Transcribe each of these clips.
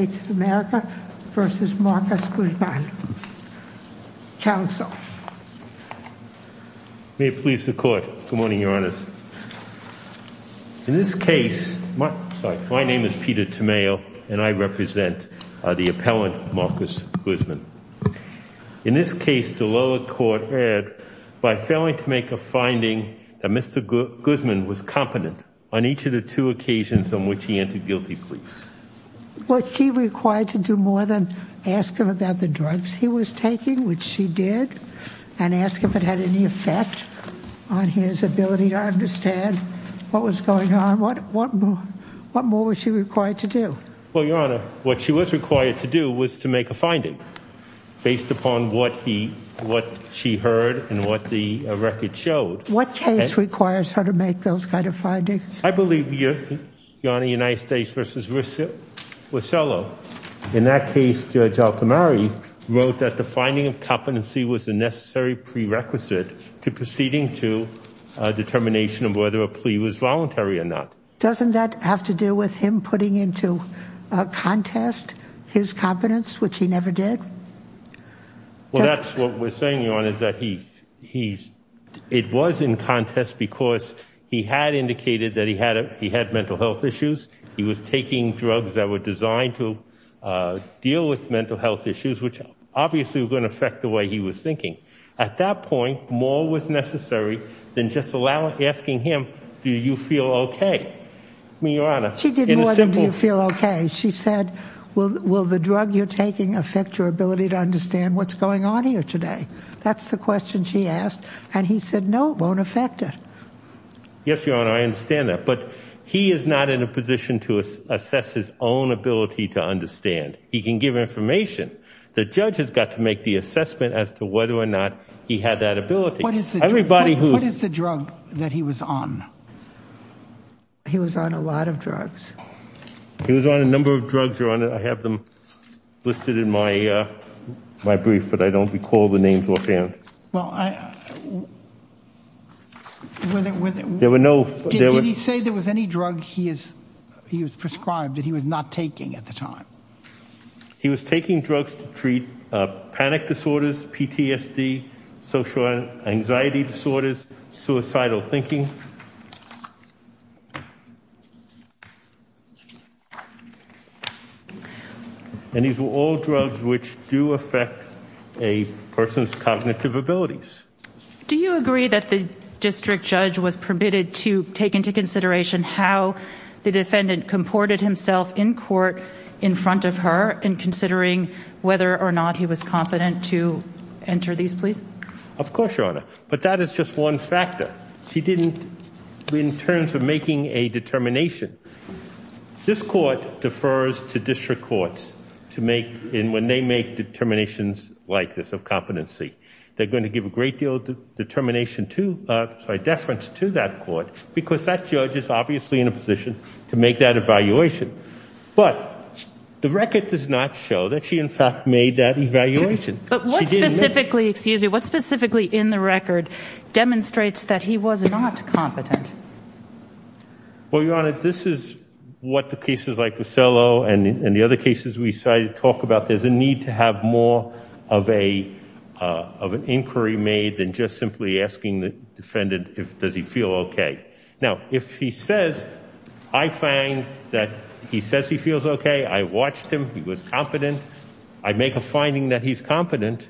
May it please the Court. Good morning, Your Honors. In this case, my name is Peter Tomeo and I represent the appellant, Marcus Guzman. In this case, the lower court erred by failing to make a finding that Mr. Guzman was competent on each of the two occasions on which he entered guilty pleas. Was he required to do more than ask him about the drugs he was taking, which she did, and ask if it had any effect on his ability to understand what was going on? What more was she required to do? Well, Your Honor, what she was required to do was to make a finding based upon what she heard and what the record showed. What case requires her to make those kind of findings? I believe, Your Honor, United States v. Russello. In that case, Judge Altomare wrote that the finding of competency was a necessary prerequisite to proceeding to a determination of whether a plea was voluntary or not. Doesn't that have to do with him putting into a contest his competence, which he never did? Well, that's what we're saying, Your Honor, is that he's, it was in contest because he had indicated that he had mental health issues. He was taking drugs that were designed to deal with mental health issues, which obviously were going to affect the way he was thinking. At that point, more was necessary than just asking him, do you feel okay? I mean, Your Honor. She did more than do you feel okay. She said, will the drug you're taking affect your ability to understand what's going on here today? That's the question she asked, and he said, no, it won't affect it. Yes, Your Honor, I understand that, but he is not in a position to assess his own ability to understand. He can give information. The judge has got to make the assessment as to whether or not he had that ability. What is the drug that he was on? He was on a lot of drugs. He was on a number of drugs, Your Honor. I have them listed in my brief, but I don't recall the names offhand. Did he say there was any drug he was prescribed that he was not taking at the time? He was taking drugs to treat panic disorders, PTSD, social anxiety disorders, suicidal thinking, and these were all drugs which do affect a person's cognitive abilities. Do you agree that the district judge was permitted to take into consideration how the defendant comported himself in court in front of her in considering whether or not he was on drugs? In terms of making a determination, this court defers to district courts when they make determinations like this of competency. They're going to give a great deal of deference to that court because that judge is obviously in a position to make that evaluation, but the record does not show that she, in fact, made that evaluation. What specifically in the record demonstrates that he was not competent? Well, Your Honor, this is what the cases like Vasello and the other cases we decided to talk about. There's a need to have more of an inquiry made than just simply asking the defendant if does he feel okay. Now, if he says, I find that he says he feels okay. I watched him. He was competent. I make a finding that he's competent,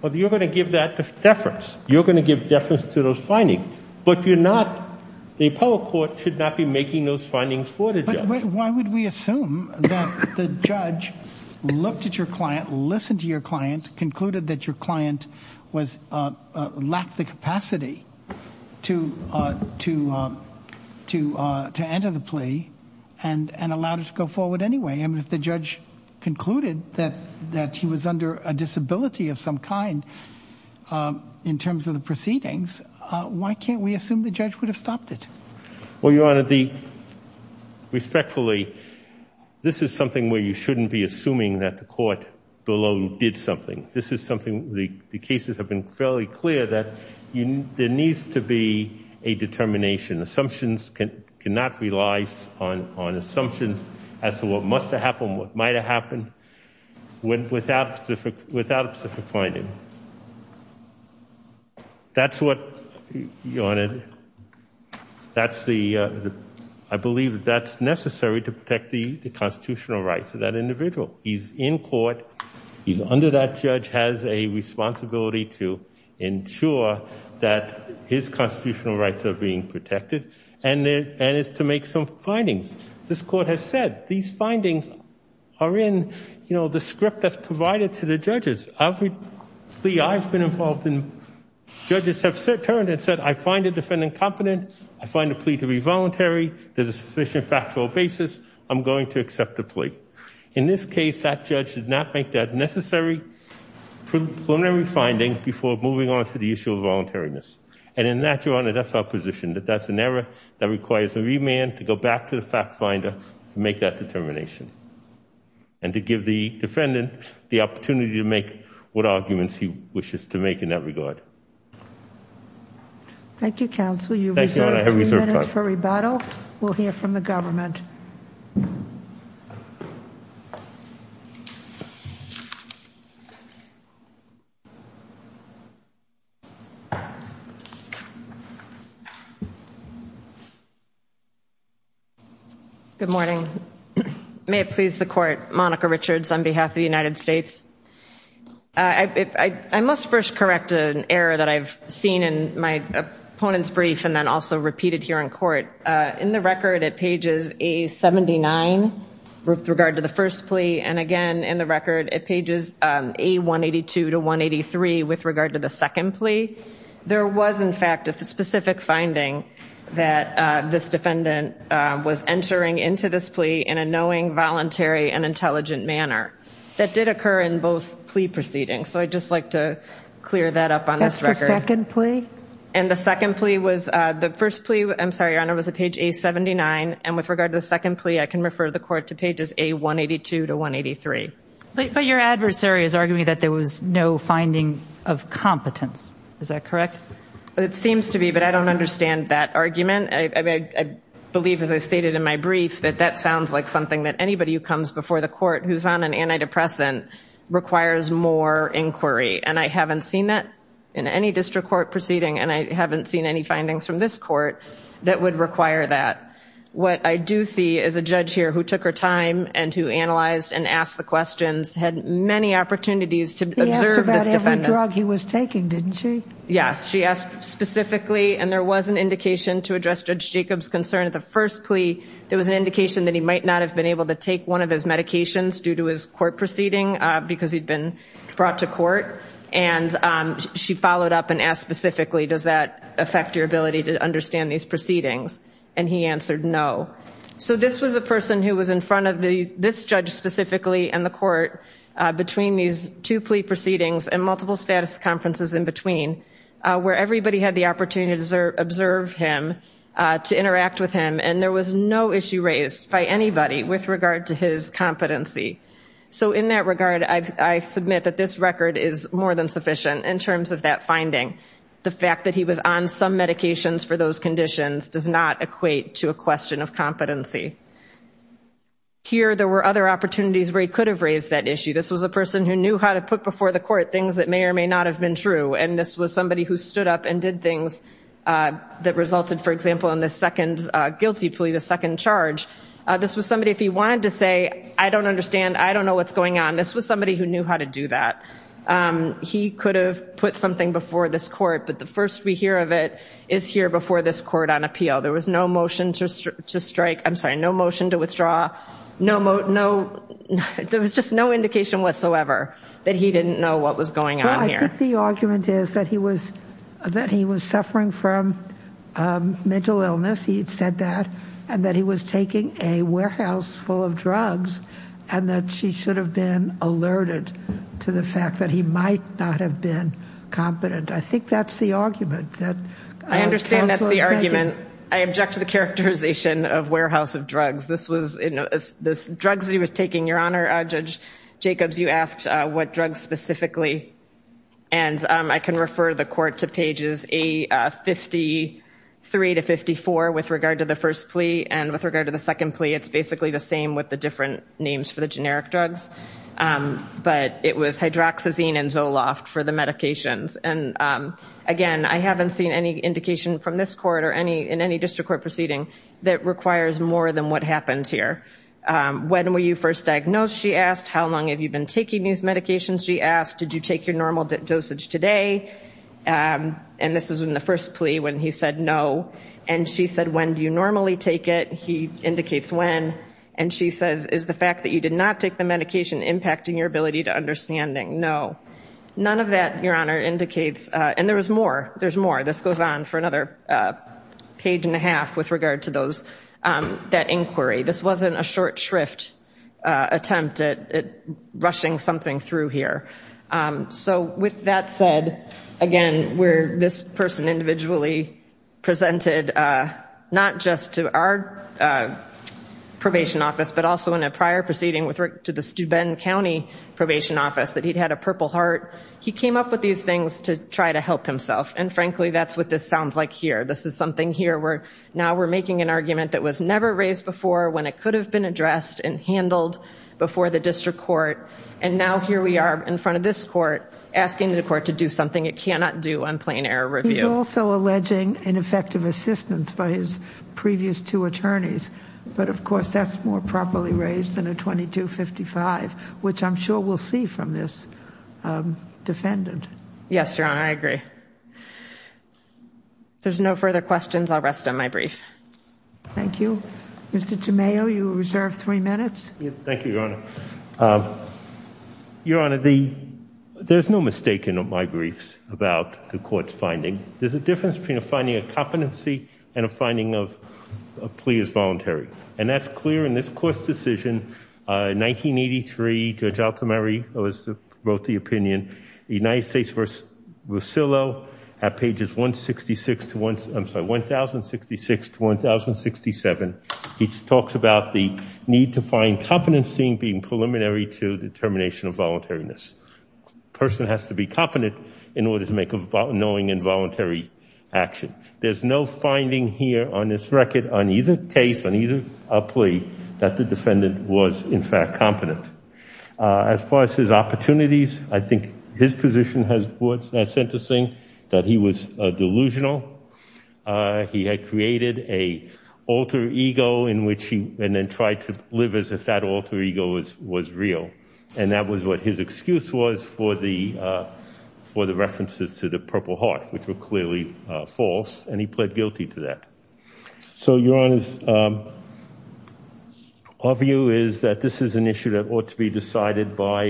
but you're going to give that deference. You're going to give deference to those findings, but the appellate court should not be making those findings for the judge. Why would we assume that the judge looked at your client, listened to your client, concluded that your client lacked the capacity to enter the plea and allowed it to go forward anyway? If the judge concluded that he was under a disability of some kind in terms of the proceedings, why can't we assume the judge would have stopped it? Well, Your Honor, respectfully, this is something where you shouldn't be assuming that the court below did something. This is something the cases have been fairly clear that there needs to be a determination. Assumptions cannot rely on assumptions as to what must have happened, what might have happened without specific finding. That's what, Your Honor, I believe that's necessary to protect the constitutional rights of that individual. He's in court. He's under that judge has a responsibility to ensure that his constitutional rights are being protected and is to make some findings. This court has said these findings are in, you know, the script that's provided to the judges. Every plea I've been involved in, judges have turned and said, I find the defendant competent. I find the plea to be voluntary. There's a sufficient factual basis. I'm going to accept the plea. In this case, that judge did not make that necessary preliminary finding before moving on to the issue of voluntariness. And in that, Your Honor, that's our position, that that's an error that requires a remand to go back to the fact finder to make that determination and to give the defendant the opportunity to make what arguments he wishes to make in that regard. Thank you, counsel. You've reserved two minutes for rebuttal. We'll hear from the government. Thank you. Good morning. May it please the court, Monica Richards on behalf of the United States. I must first correct an error that I've seen in my opponent's brief and then also repeated here in court. In the record at pages A-79, with regard to the first plea, and again in the record at pages A-182 to 183 with regard to the second plea, there was, in fact, a specific finding that this defendant was entering into this plea in a knowing, voluntary, and intelligent manner that did occur in both plea proceedings. So I'd just like to clear that up on this record. That's the second plea? And the second plea was, the first plea, I'm sorry, Your Honor, was at page A-79, and with regard to the second plea, I can refer the court to pages A-182 to 183. But your adversary is arguing that there was no finding of competence. Is that correct? It seems to be, but I don't understand that argument. I believe, as I stated in my brief, that that sounds like something that anybody who comes before the court who's on an antidepressant requires more inquiry. And I haven't seen that in any district court proceeding, and I haven't seen any findings from this court that would require that. What I do see is a judge here who took her time and who analyzed and asked the questions, had many opportunities to observe this defendant. He asked about every drug he was taking, didn't she? Yes, she asked specifically, and there was an indication to address Judge Jacob's concern at the first plea. There was an indication that he might not have been able to take one of his medications due to his court proceeding, because he'd been brought to court. And she followed up and asked specifically, does that affect your ability to understand these proceedings? And he answered no. So this was a person who was in front of this judge specifically and the court between these two plea proceedings and multiple status conferences in between, where everybody had the opportunity to observe him, to interact with him. And there was no issue raised by anybody with regard to his competency. So in that regard, I submit that this record is more than sufficient in terms of that finding. The fact that he was on some medications for those conditions does not equate to a question of competency. Here, there were other opportunities where he could have raised that issue. This was a person who knew how to put before the court things that may or may not have been true. And this was somebody who stood up and did things that resulted, for example, in this guilty plea, the second charge. This was somebody, if he wanted to say, I don't understand. I don't know what's going on. This was somebody who knew how to do that. He could have put something before this court. But the first we hear of it is here before this court on appeal. There was no motion to strike. I'm sorry, no motion to withdraw. There was just no indication whatsoever that he didn't know what was going on here. The argument is that he was that he was suffering from mental illness. He said that and that he was taking a warehouse full of drugs and that she should have been alerted to the fact that he might not have been competent. I think that's the argument that I understand. That's the argument. I object to the characterization of warehouse of drugs. This was drugs he was taking. Your Honor, Judge Jacobs, you asked what drugs specifically. And I can refer the court to pages A53 to 54 with regard to the first plea. And with regard to the second plea, it's basically the same with the different names for the generic drugs. But it was hydroxyzine and Zoloft for the medications. And again, I haven't seen any indication from this proceeding that requires more than what happens here. When were you first diagnosed? She asked how long have you been taking these medications? She asked, did you take your normal dosage today? And this was in the first plea when he said no. And she said, when do you normally take it? He indicates when. And she says, is the fact that you did not take the medication impacting your ability to understanding? No. None of that, Your Honor, indicates. And there was more. There's more. This goes on for another page and a half with regard to that inquiry. This wasn't a short shrift attempt at rushing something through here. So with that said, again, where this person individually presented not just to our probation office, but also in a prior proceeding with Rick to the Steuben County Probation Office, that he'd had a purple heart. He came up with these things to try to help himself. And frankly, that's what this sounds like here. This is something here where now we're making an argument that was never raised before when it could have been addressed and handled before the district court. And now here we are in front of this court asking the court to do something it cannot do on plain error review. He's also alleging ineffective assistance by his previous two attorneys. But of course, that's more properly raised than a 2255, which I'm sure we'll see from this defendant. Yes, Your Honor, I agree. There's no further questions. I'll rest on my brief. Thank you. Mr. Tameo, you reserve three minutes. Thank you, Your Honor. Your Honor, there's no mistake in my briefs about the court's finding. There's a difference between a finding of competency and a finding of plea as voluntary. And that's clear in this opinion. The United States v. Rusillo at pages 1066 to 1067, he talks about the need to find competency being preliminary to determination of voluntariness. A person has to be competent in order to make a knowing and voluntary action. There's no finding here on this record on either case, on either plea, that the defendant was, in fact, competent. As far as his opportunities, I think his position has sentencing that he was delusional. He had created a alter ego in which he then tried to live as if that alter ego was real. And that was what his excuse was for the references to the Purple Heart, which were clearly false. And he pled guilty to that. So, Your Honor, our view is that this is an issue that ought to be decided by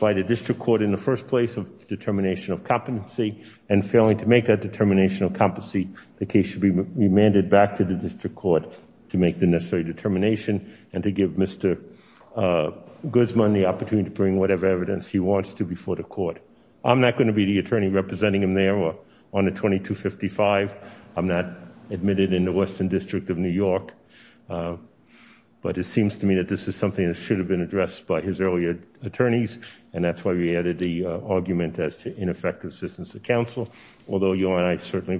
the district court in the first place of determination of competency. And failing to make that determination of competency, the case should be remanded back to the district court to make the necessary determination and to give Mr. Guzman the opportunity to bring whatever evidence he wants to before the court. I'm not going to be the attorney representing him there on the 2255. I'm not admitted in the Western District of New York. But it seems to me that this is something that should have been addressed by his earlier attorneys. And that's why we added the argument as to ineffective assistance to counsel. Although, Your Honor, I certainly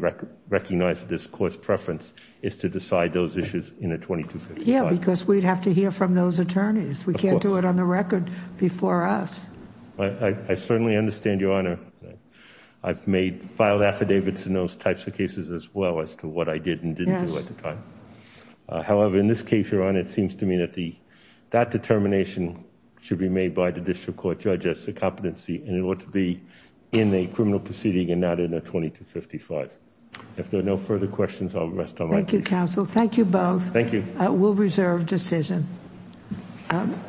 recognize this court's preference is to decide those issues in the 2255. Yeah, because we'd have to hear from those attorneys. We can't do it on the record before us. I certainly understand, Your Honor. I've made filed affidavits in those types of cases as well as to what I did and didn't do at the time. However, in this case, Your Honor, it seems to me that that determination should be made by the district court judge as to competency. And it ought to be in a criminal proceeding and not in a 2255. If there are no further questions, I'll rest on my duty. Thank you, counsel. Thank you both. Thank you. We'll reserve decision.